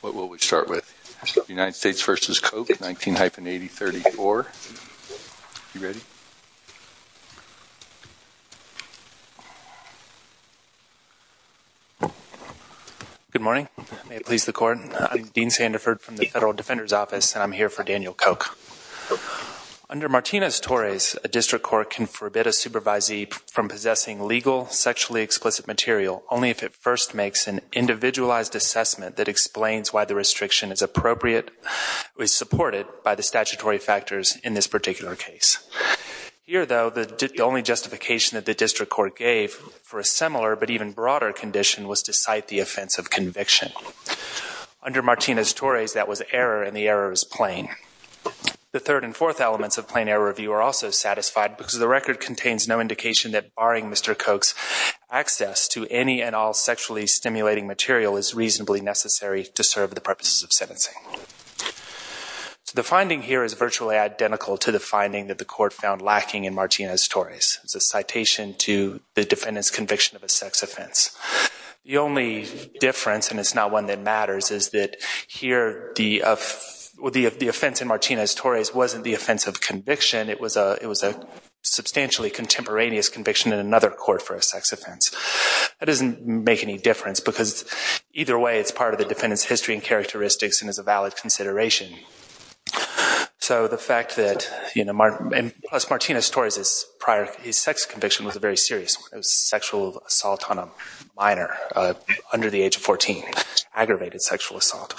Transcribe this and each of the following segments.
What will we start with? United States v. Koch, 19-8034. Are you ready? Good morning. May it please the Court. I'm Dean Sandiford from the Federal Defender's Office, and I'm here for Daniel Koch. Under Martinez-Torres, a district court can forbid a supervisee from possessing legal, sexually explicit material only if it first makes an individualized assessment that explains why the restriction is appropriate, is supported by the statutory factors in this particular case. Here, though, the only justification that the district court gave for a similar but even broader condition was to cite the offense of conviction. Under Martinez-Torres, that was error, and the error is plain. The third and fourth elements of plain error review are also satisfied because the record contains no indication that barring Mr. Koch's access to any and all sexually stimulating material is reasonably necessary to serve the purposes of sentencing. The finding here is virtually identical to the finding that the Court found lacking in Martinez-Torres. It's a citation to the defendant's conviction of a sex offense. The only difference, and it's not one that matters, is that here the offense in Martinez-Torres wasn't the offense of conviction. It was a substantially contemporaneous conviction in another court for a sex offense. That doesn't make any difference because either way, it's part of the defendant's history and characteristics and is a valid consideration. Plus, Martinez-Torres' sex conviction was a very serious one. It was sexual assault on a minor under the age of 14, aggravated sexual assault.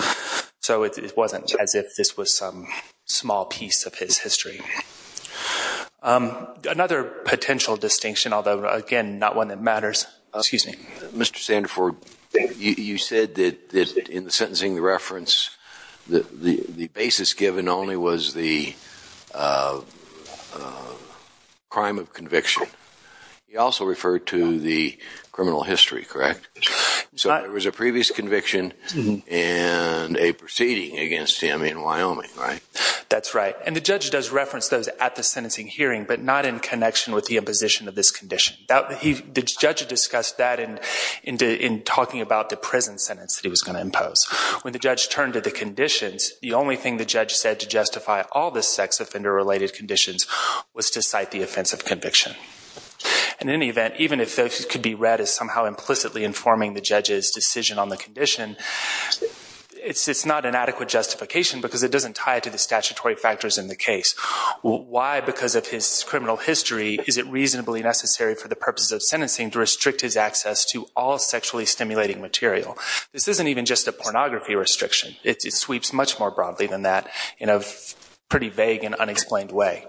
So it wasn't as if this was some small piece of his history. Another potential distinction, although again, not one that matters. Excuse me. Mr. Sandefur, you said that in sentencing the reference, the basis given only was the crime of conviction. You also referred to the criminal history, correct? So there was a previous conviction and a proceeding against him in Wyoming, right? That's right. And the judge does reference those at the sentencing hearing, but not in connection with the imposition of this condition. The judge discussed that in talking about the prison sentence that he was going to impose. When the judge turned to the conditions, the only thing the judge said to justify all the sex offender-related conditions was to cite the offense of conviction. In any event, even if this could be read as somehow implicitly informing the judge's decision on the condition, it's not an adequate justification because it doesn't tie to the statutory factors in the case. Why, because of his criminal history, is it reasonably necessary for the purposes of sentencing to restrict his access to all sexually stimulating material? This isn't even just a pornography restriction. It sweeps much more broadly than that in a pretty vague and unexplained way.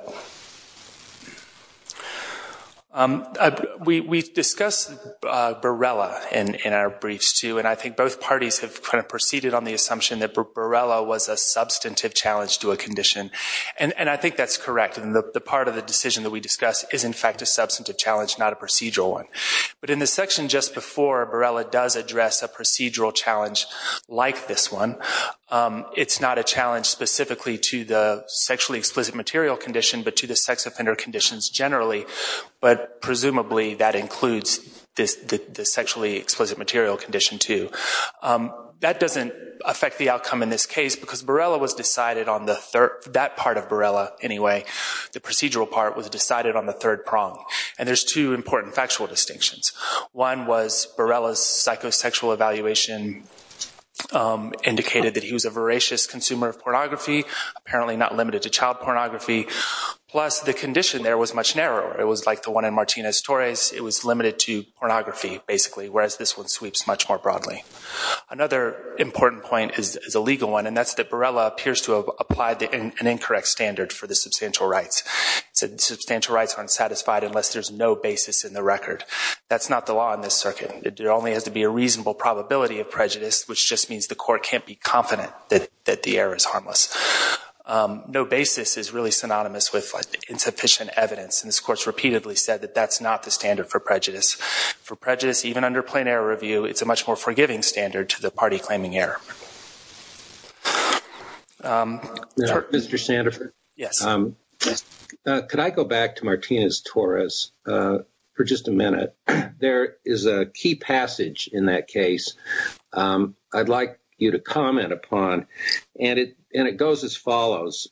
We discussed Borrella in our briefs, too, and I think both parties have kind of proceeded on the assumption that Borrella was a substantive challenge to a condition. And I think that's correct. The part of the decision that we discussed is, in fact, a substantive challenge, not a procedural one. But in the section just before, Borrella does address a procedural challenge like this one. It's not a challenge specifically to the sexually explicit material condition, but to the sex offender conditions generally. But presumably, that includes the sexually explicit material condition, too. That doesn't affect the outcome in this case because Borrella was decided on the third—that part of Borrella, anyway, the procedural part was decided on the third prong. And there's two important factual distinctions. One was Borrella's psychosexual evaluation indicated that he was a voracious consumer of pornography, apparently not limited to child pornography, plus the condition there was much narrower. It was like the one in Martinez-Torres. It was limited to pornography, basically, whereas this one sweeps much more broadly. Another important point is a legal one, and that's that Borrella appears to have applied an incorrect standard for the substantial rights. Substantial rights are unsatisfied unless there's no basis in the record. That's not the law in this circuit. There only has to be a reasonable probability of prejudice, which just means the court can't be confident that the error is harmless. No basis is really synonymous with insufficient evidence, and this Court's repeatedly said that that's not the standard for prejudice. For prejudice, even under plain error review, it's a much more forgiving standard to the party claiming error. Mr. Sandefur? Yes. Could I go back to Martinez-Torres for just a minute? There is a key passage in that case I'd like you to comment upon, and it goes as follows.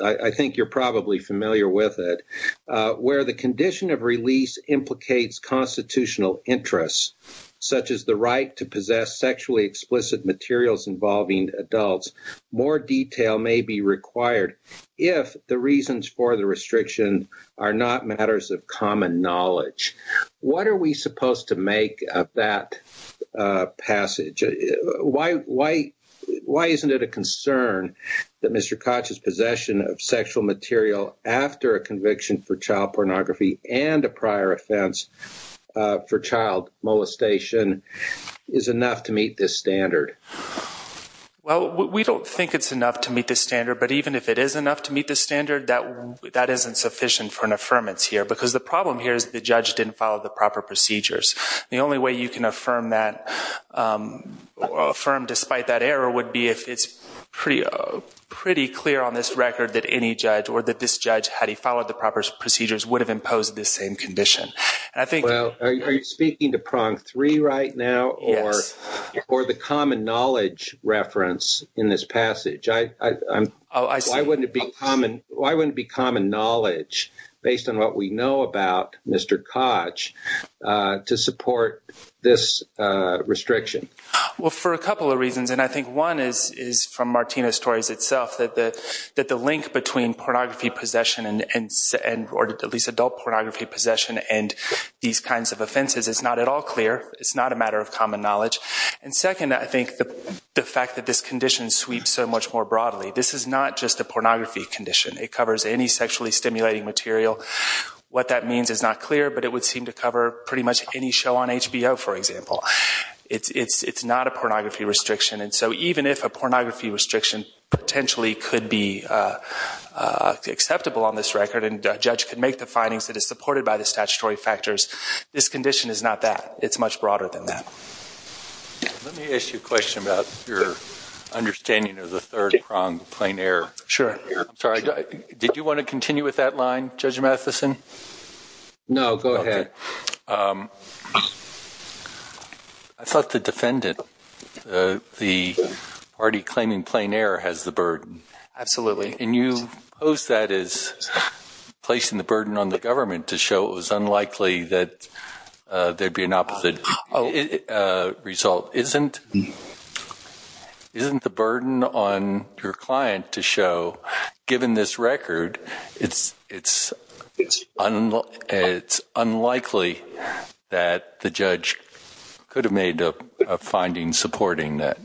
I think you're probably familiar with it. Where the condition of release implicates constitutional interests, such as the right to possess sexually explicit materials involving adults, more detail may be required if the reasons for the restriction are not matters of common knowledge. What are we supposed to make of that passage? Why isn't it a concern that Mr. Koch's possession of sexual material after a conviction for child pornography and a prior offense for child molestation is enough to meet this standard? Well, we don't think it's enough to meet this standard, but even if it is enough to meet this standard, that isn't sufficient for an affirmance here because the problem here is the judge didn't follow the proper procedures. The only way you can affirm despite that error would be if it's pretty clear on this record that any judge or that this judge, had he followed the proper procedures, would have imposed this same condition. Are you speaking to prong three right now or the common knowledge reference in this passage? Why wouldn't it be common knowledge, based on what we know about Mr. Koch, to support this restriction? Well, for a couple of reasons, and I think one is from Martina's stories itself, that the link between pornography possession or at least adult pornography possession and these kinds of offenses is not at all clear. It's not a matter of common knowledge. And second, I think the fact that this condition sweeps so much more broadly. This is not just a pornography condition. It covers any sexually stimulating material. What that means is not clear, but it would seem to cover pretty much any show on HBO, for example. It's not a pornography restriction, and so even if a pornography restriction potentially could be acceptable on this record and a judge could make the findings that is supported by the statutory factors, this condition is not that. It's much broader than that. Let me ask you a question about your understanding of the third prong, plain error. Sure. I'm sorry. Did you want to continue with that line, Judge Matheson? No, go ahead. I thought the defendant, the party claiming plain error, has the burden. Absolutely. And you pose that as placing the burden on the government to show it was unlikely that there would be an opposite result. Isn't the burden on your client to show, given this record, it's unlikely that the judge could have made a finding supporting that,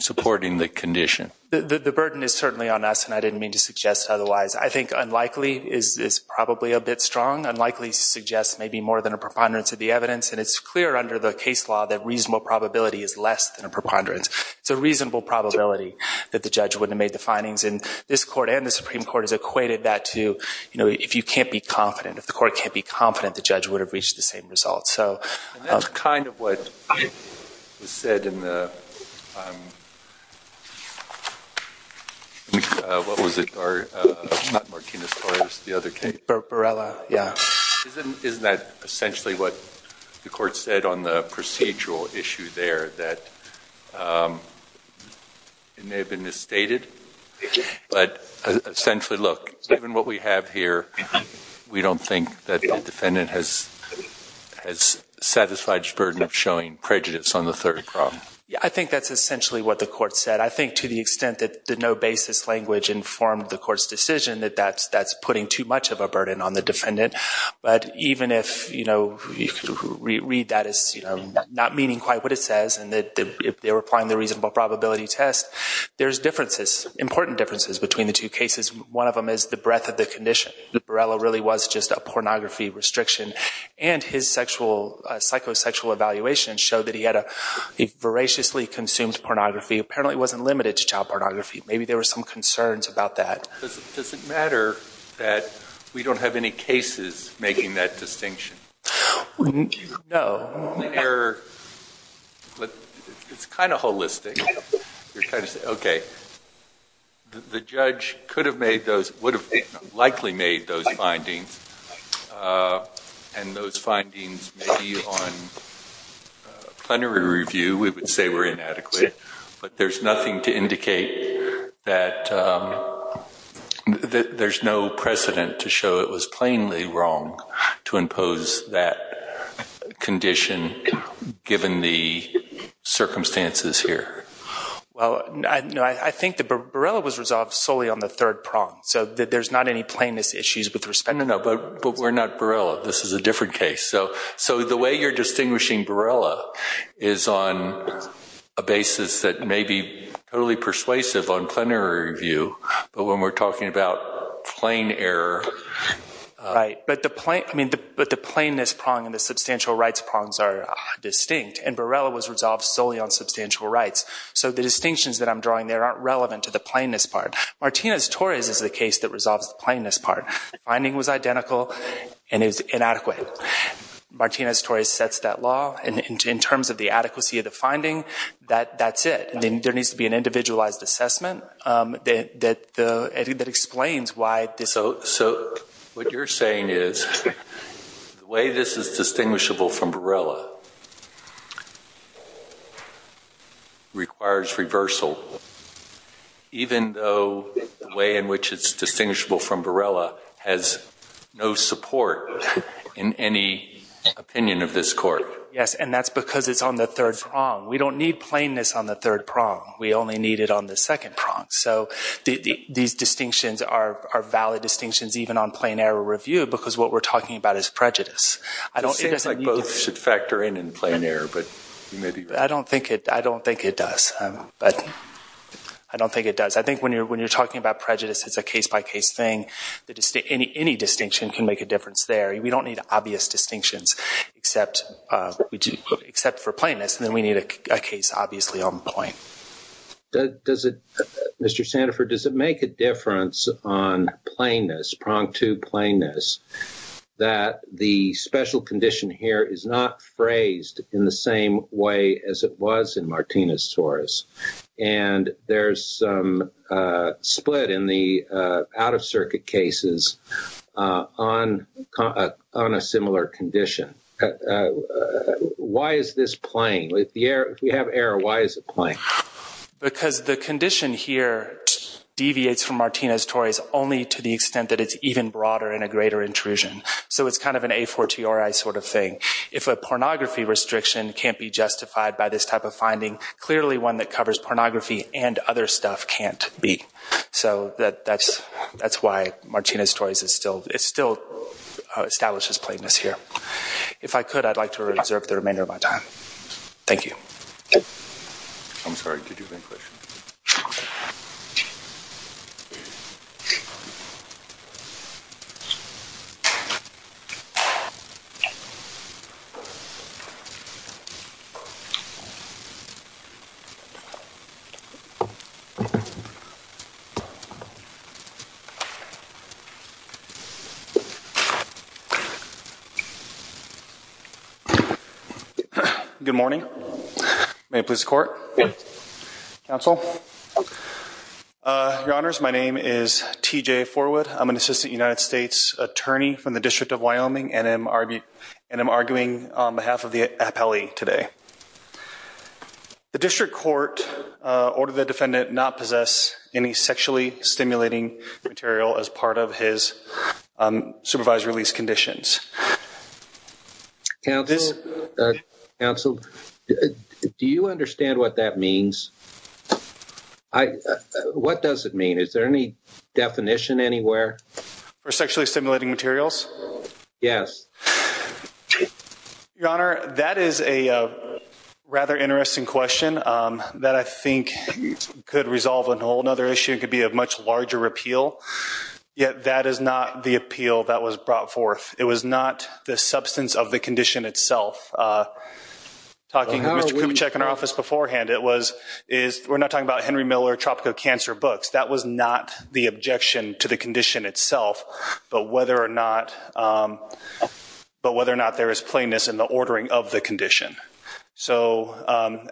supporting the condition. The burden is certainly on us, and I didn't mean to suggest otherwise. I think unlikely is probably a bit strong. Unlikely suggests maybe more than a preponderance of the evidence, and it's clear under the case law that reasonable probability is less than a preponderance. It's a reasonable probability that the judge wouldn't have made the findings, and this court and the Supreme Court has equated that to if you can't be confident, if the court can't be confident, the judge would have reached the same result. And that's kind of what was said in the, what was it, or not Martinez-Torres, the other case? Barella, yeah. Isn't that essentially what the court said on the procedural issue there, that it may have been misstated? But essentially, look, given what we have here, we don't think that the defendant has satisfied his burden of showing prejudice on the third problem. Yeah, I think that's essentially what the court said. I think to the extent that the no basis language informed the court's decision, that that's putting too much of a burden on the defendant. But even if you read that as not meaning quite what it says, and that they were applying the reasonable probability test, there's differences, important differences between the two cases. One of them is the breadth of the condition. Barella really was just a pornography restriction, and his psychosexual evaluation showed that he had a voraciously consumed pornography. Apparently, it wasn't limited to child pornography. Maybe there were some concerns about that. Does it matter that we don't have any cases making that distinction? No. It's kind of holistic. You're kind of saying, okay, the judge could have made those, would have likely made those findings, and those findings may be on plenary review. We would say were inadequate. But there's nothing to indicate that there's no precedent to show it was plainly wrong to impose that condition given the circumstances here. Well, I think Barella was resolved solely on the third prong, so there's not any plainness issues with respect to that. No, but we're not Barella. This is a different case. So the way you're distinguishing Barella is on a basis that may be totally persuasive on plenary review, but when we're talking about plain error. Right, but the plainness prong and the substantial rights prongs are distinct, and Barella was resolved solely on substantial rights. So the distinctions that I'm drawing there aren't relevant to the plainness part. Martinez-Torres is the case that resolves the plainness part. The finding was identical, and it was inadequate. Martinez-Torres sets that law, and in terms of the adequacy of the finding, that's it. There needs to be an individualized assessment that explains why this. So what you're saying is the way this is distinguishable from Barella requires reversal, even though the way in which it's distinguishable from Barella has no support in any opinion of this court. Yes, and that's because it's on the third prong. We don't need plainness on the third prong. We only need it on the second prong. So these distinctions are valid distinctions even on plenary review because what we're talking about is prejudice. It seems like both should factor in in plenary, but you may be right. I don't think it does, but I don't think it does. I think when you're talking about prejudice, it's a case-by-case thing. Any distinction can make a difference there. We don't need obvious distinctions except for plainness, and then we need a case obviously on point. Mr. Sandifer, does it make a difference on plainness, prong to plainness, that the special condition here is not phrased in the same way as it was in Martinez-Torres? And there's some split in the out-of-circuit cases on a similar condition. Why is this plain? If we have error, why is it plain? Because the condition here deviates from Martinez-Torres only to the extent that it's even broader and a greater intrusion. So it's kind of an a fortiori sort of thing. If a pornography restriction can't be justified by this type of finding, clearly one that covers pornography and other stuff can't be. So that's why Martinez-Torres still establishes plainness here. If I could, I'd like to reserve the remainder of my time. Thank you. I'm sorry. Did you have any questions? No. Good morning. May it please the court? Yes. Counsel? Your Honors, my name is T.J. Forwood. I'm an assistant United States attorney from the District of Wyoming, and I'm arguing on behalf of the appellee today. The district court ordered the defendant not possess any sexually stimulating material as part of his supervised release conditions. Counsel, do you understand what that means? What does it mean? Is there any definition anywhere? For sexually stimulating materials? Yes. Your Honor, that is a rather interesting question that I think could resolve a whole other issue. It could be a much larger appeal. Yet that is not the appeal that was brought forth. It was not the substance of the condition itself. Talking to Mr. Kubitschek in our office beforehand, we're not talking about Henry Miller, Tropico Cancer books. That was not the objection to the condition itself, but whether or not there is plainness in the ordering of the condition. So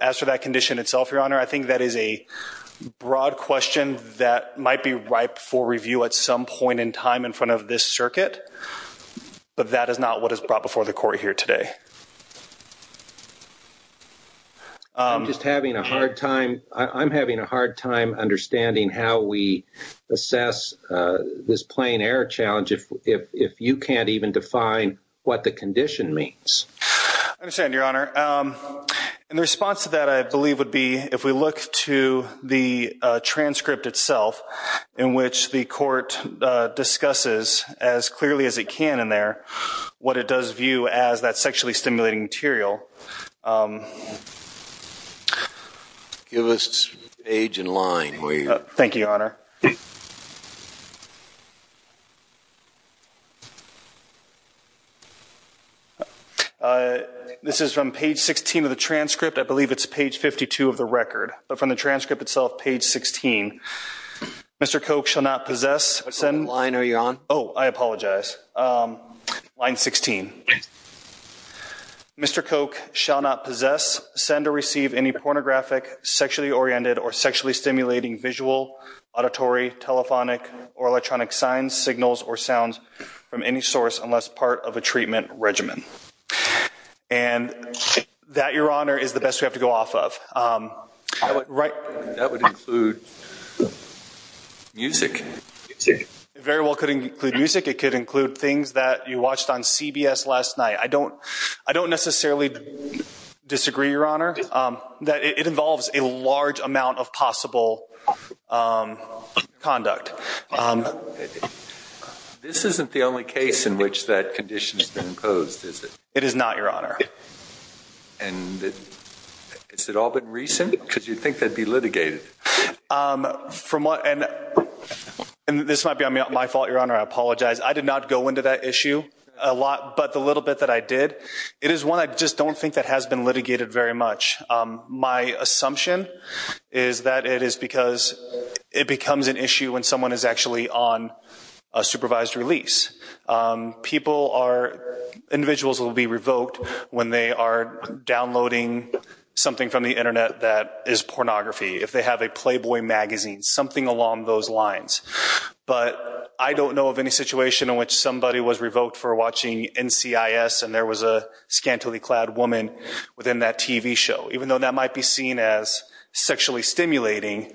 as for that condition itself, Your Honor, I think that is a broad question that might be ripe for review at some point in time in front of this circuit, but that is not what is brought before the court here today. I'm just having a hard time understanding how we assess this plain error challenge if you can't even define what the condition means. I understand, Your Honor. And the response to that, I believe, would be if we look to the transcript itself in which the court discusses as clearly as it can in there, what it does view as that sexually stimulating material. Give us page and line. Thank you, Your Honor. This is from page 16 of the transcript. I believe it's page 52 of the record, but from the transcript itself, page 16. Mr. Koch shall not possess. What line are you on? Oh, I apologize. Line 16. Mr. Koch shall not possess, send, or receive any pornographic, sexually oriented, or sexually stimulating visual, auditory, telephonic, or electronic signs, signals, or sounds from any source unless part of a treatment regimen. And that, Your Honor, is the best we have to go off of. That would include music. It very well could include music. It could include things that you watched on CBS last night. I don't necessarily disagree, Your Honor, that it involves a large amount of possible conduct. This isn't the only case in which that condition has been imposed, is it? It is not, Your Honor. And has it all been recent? Because you'd think that would be litigated. And this might be my fault, Your Honor. I apologize. I did not go into that issue a lot, but the little bit that I did, it is one I just don't think that has been litigated very much. My assumption is that it is because it becomes an issue when someone is actually on a supervised release. Individuals will be revoked when they are downloading something from the Internet that is pornography. If they have a Playboy magazine, something along those lines. But I don't know of any situation in which somebody was revoked for watching NCIS and there was a scantily clad woman within that TV show. Even though that might be seen as sexually stimulating,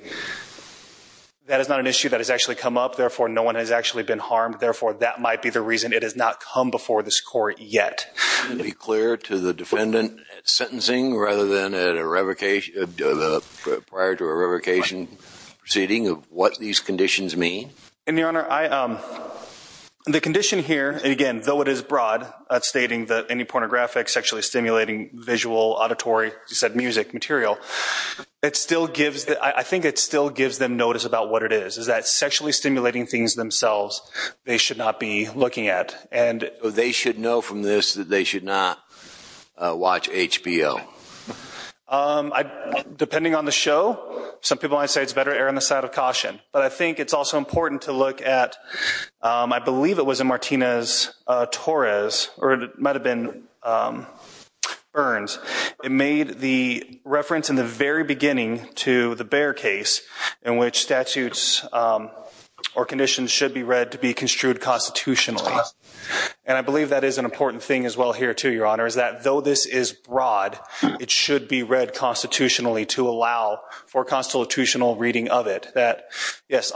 that is not an issue that has actually come up. Therefore, no one has actually been harmed. Therefore, that might be the reason it has not come before this court yet. Can you be clear to the defendant at sentencing rather than prior to a revocation proceeding of what these conditions mean? Your Honor, the condition here, again, though it is broad, stating that any pornographic, sexually stimulating, visual, auditory, music material, I think it still gives them notice about what it is. It is that sexually stimulating things themselves they should not be looking at. They should know from this that they should not watch HBO. Depending on the show, some people might say it is better to err on the side of caution. But I think it is also important to look at, I believe it was in Martinez-Torres, or it might have been Burns. It made the reference in the very beginning to the Bear case in which statutes or conditions should be read to be construed constitutionally. I believe that is an important thing as well here too, Your Honor, is that though this is broad, it should be read constitutionally to allow for constitutional reading of it. Yes,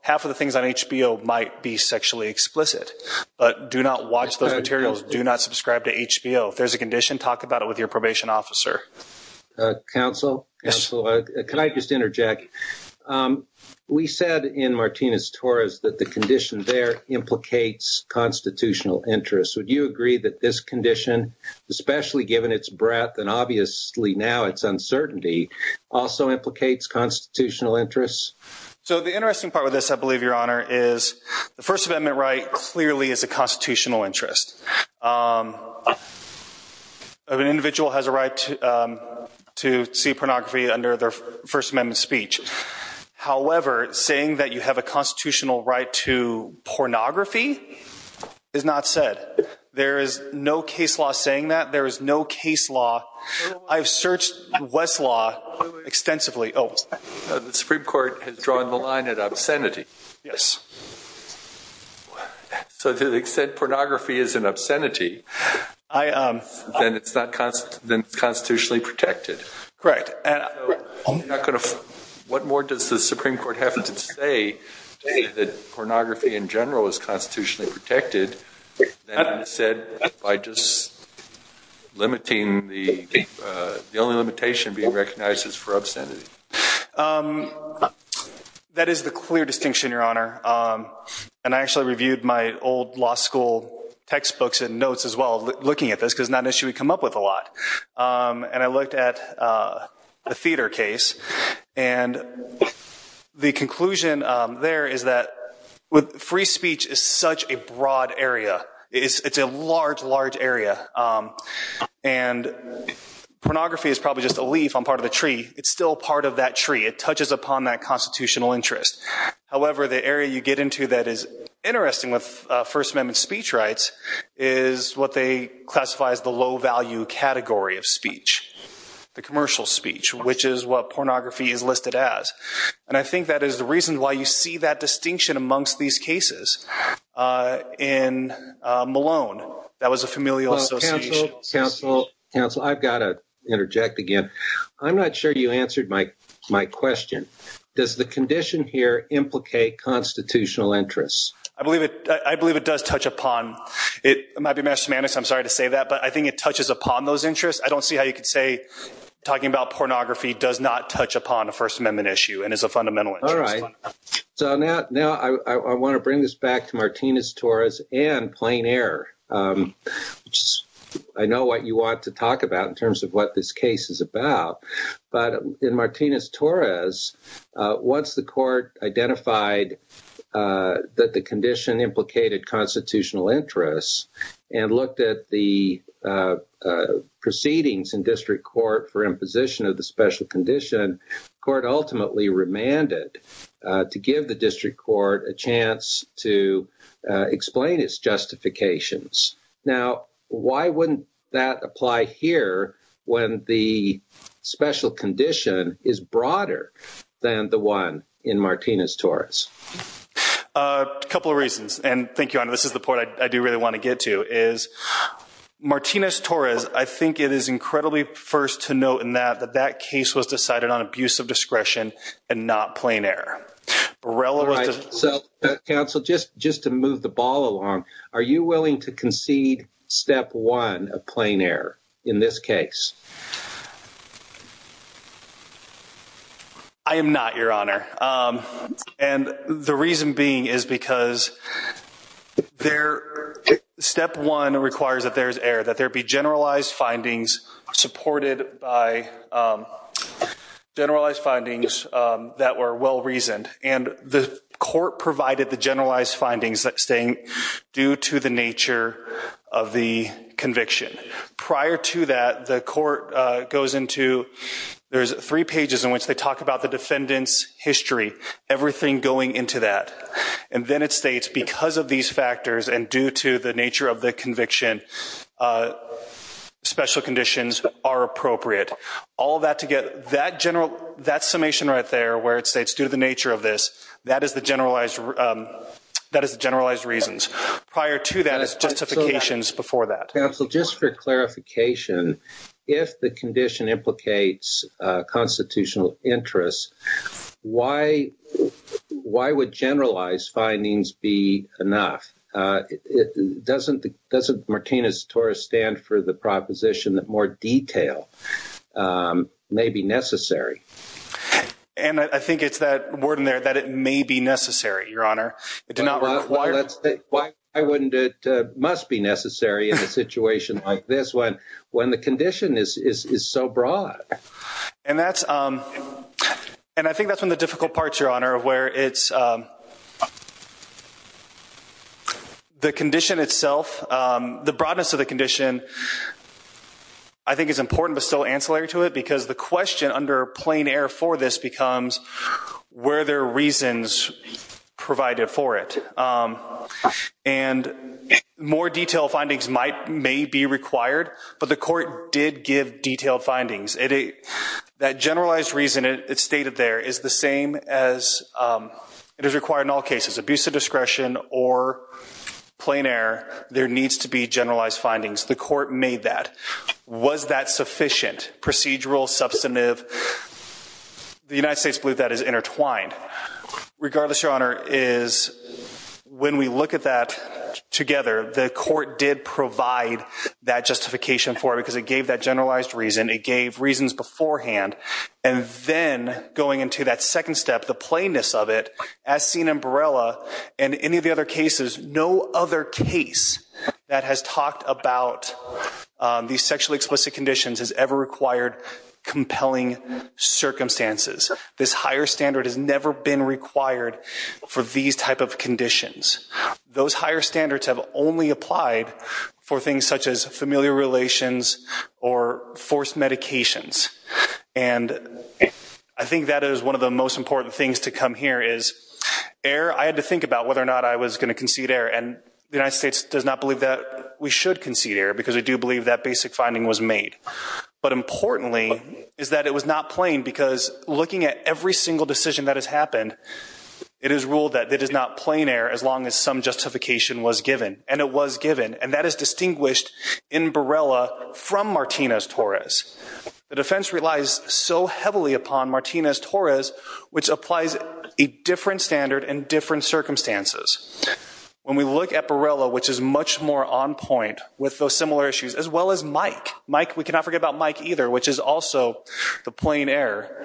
half of the things on HBO might be sexually explicit, but do not watch those materials. Do not subscribe to HBO. If there is a condition, talk about it with your probation officer. Counsel? Yes. Can I just interject? We said in Martinez-Torres that the condition there implicates constitutional interest. Would you agree that this condition, especially given its breadth and obviously now its uncertainty, also implicates constitutional interest? So the interesting part with this, I believe, Your Honor, is the First Amendment right clearly is a constitutional interest. An individual has a right to see pornography under their First Amendment speech. However, saying that you have a constitutional right to pornography is not said. There is no case law saying that. There is no case law. I have searched Westlaw extensively. The Supreme Court has drawn the line at obscenity. Yes. So to the extent pornography is an obscenity, then it's constitutionally protected. Correct. What more does the Supreme Court have to say that pornography in general is constitutionally protected than is said by just limiting the only limitation being recognized as for obscenity? That is the clear distinction, Your Honor. And I actually reviewed my old law school textbooks and notes as well looking at this because it's not an issue we come up with a lot. And I looked at the theater case. And the conclusion there is that free speech is such a broad area. It's a large, large area. And pornography is probably just a leaf on part of the tree. It's still part of that tree. It touches upon that constitutional interest. However, the area you get into that is interesting with First Amendment speech rights is what they classify as the low-value category of speech, the commercial speech, which is what pornography is listed as. And I think that is the reason why you see that distinction amongst these cases. In Malone, that was a familial association. Counsel, counsel, counsel, I've got to interject again. I'm not sure you answered my question. Does the condition here implicate constitutional interests? I believe it does touch upon it. I'm sorry to say that, but I think it touches upon those interests. I don't see how you could say talking about pornography does not touch upon a First Amendment issue and is a fundamental interest. All right. So now I want to bring this back to Martinez-Torres and plain error. I know what you want to talk about in terms of what this case is about. But in Martinez-Torres, once the court identified that the condition implicated constitutional interests and looked at the proceedings in district court for imposition of the special condition, the court ultimately remanded to give the district court a chance to explain its justifications. Now, why wouldn't that apply here when the special condition is broader than the one in Martinez-Torres? A couple of reasons. And thank you. This is the part I do really want to get to is Martinez-Torres. I think it is incredibly first to note in that that that case was decided on abuse of discretion and not plain error. So, counsel, just just to move the ball along. Are you willing to concede step one of plain error in this case? I am not, Your Honor. And the reason being is because there step one requires that there is error, that there be generalized findings supported by generalized findings that were well reasoned. And the court provided the generalized findings that staying due to the nature of the conviction. Prior to that, the court goes into there's three pages in which they talk about the defendant's history, everything going into that. And then it states because of these factors and due to the nature of the conviction, special conditions are appropriate. All that to get that general that summation right there where it states due to the nature of this, that is the generalized that is generalized reasons. Prior to that is justifications before that. Counsel, just for clarification, if the condition implicates constitutional interests, why? Why would generalized findings be enough? Doesn't doesn't Martinez-Torres stand for the proposition that more detail may be necessary? And I think it's that word in there that it may be necessary, Your Honor. Why wouldn't it must be necessary in a situation like this one when the condition is so broad? And that's and I think that's one of the difficult parts, Your Honor, where it's the condition itself. The broadness of the condition I think is important, but still ancillary to it, because the question under plain air for this becomes where there are reasons provided for it. And more detailed findings might may be required, but the court did give detailed findings. That generalized reason it stated there is the same as it is required in all cases. Abuse of discretion or plain air. There needs to be generalized findings. The court made that. Was that sufficient? Procedural, substantive. The United States believe that is intertwined. Regardless, Your Honor, is when we look at that together, the court did provide that justification for it because it gave that generalized reason. It gave reasons beforehand. And then going into that second step, the plainness of it, as seen in Barella and any of the other cases, no other case that has talked about these sexually explicit conditions has ever required compelling circumstances. This higher standard has never been required for these type of conditions. Those higher standards have only applied for things such as familial relations or forced medications. And I think that is one of the most important things to come here is air. I had to think about whether or not I was going to concede air, and the United States does not believe that we should concede air because we do believe that basic finding was made. But importantly is that it was not plain because looking at every single decision that has happened, it is ruled that it is not plain air as long as some justification was given. And it was given. And that is distinguished in Barella from Martinez-Torres. The defense relies so heavily upon Martinez-Torres, which applies a different standard and different circumstances. When we look at Barella, which is much more on point with those similar issues, as well as Mike. Mike, we cannot forget about Mike either, which is also the plain air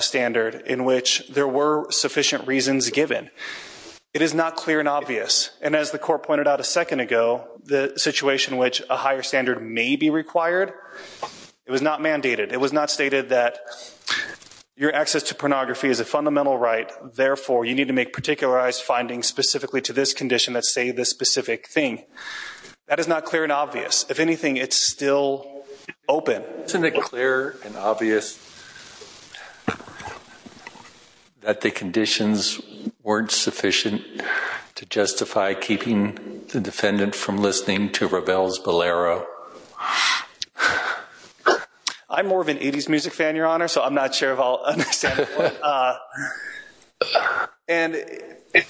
standard in which there were sufficient reasons given. It is not clear and obvious. And as the court pointed out a second ago, the situation in which a higher standard may be required, it was not mandated. It was not stated that your access to pornography is a fundamental right. Therefore, you need to make particularized findings specifically to this condition that say this specific thing. That is not clear and obvious. If anything, it's still open. Isn't it clear and obvious that the conditions weren't sufficient to justify keeping the defendant from listening to Ravel's Ballero? I'm more of an 80s music fan, Your Honor, so I'm not sure if I'll understand. And you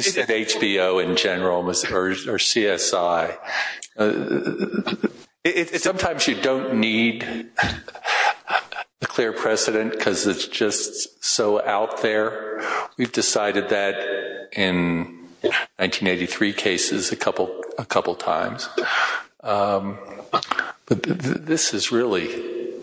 said HBO in general or CSI. Sometimes you don't need a clear precedent because it's just so out there. We've decided that in 1983 cases a couple times. This is really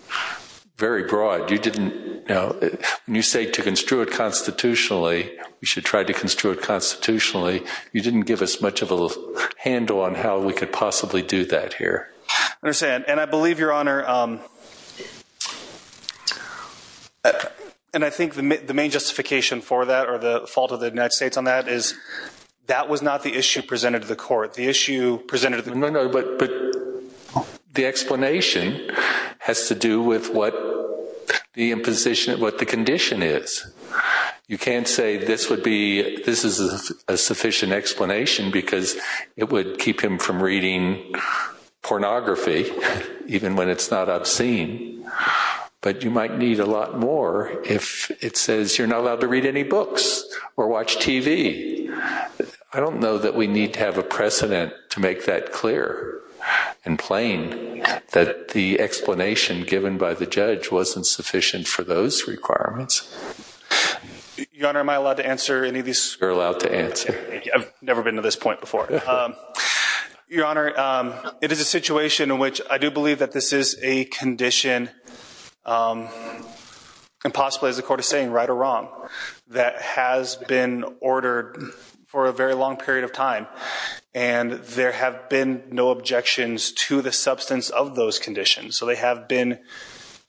very broad. When you say to construe it constitutionally, you should try to construe it constitutionally. You didn't give us much of a handle on how we could possibly do that here. I understand. And I believe, Your Honor, and I think the main justification for that or the fault of the United States on that is that was not the issue presented to the court. No, no, but the explanation has to do with what the condition is. You can't say this is a sufficient explanation because it would keep him from reading pornography even when it's not obscene. But you might need a lot more if it says you're not allowed to read any books or watch TV. I don't know that we need to have a precedent to make that clear and plain that the explanation given by the judge wasn't sufficient for those requirements. Your Honor, am I allowed to answer any of these? You're allowed to answer. I've never been to this point before. Your Honor, it is a situation in which I do believe that this is a condition, and possibly, as the court is saying, right or wrong, that has been ordered for a very long period of time. And there have been no objections to the substance of those conditions. So they have been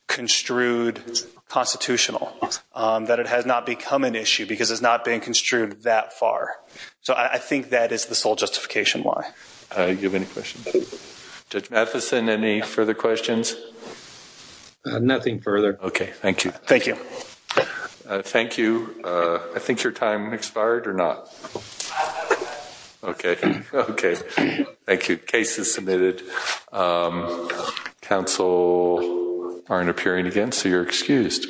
construed constitutional, that it has not become an issue because it's not been construed that far. So I think that is the sole justification why. Do you have any questions? Judge Matheson, any further questions? Nothing further. Okay, thank you. Thank you. Thank you. I think your time expired or not. Okay. Okay. Thank you. Case is submitted. Counsel aren't appearing again, so you're excused.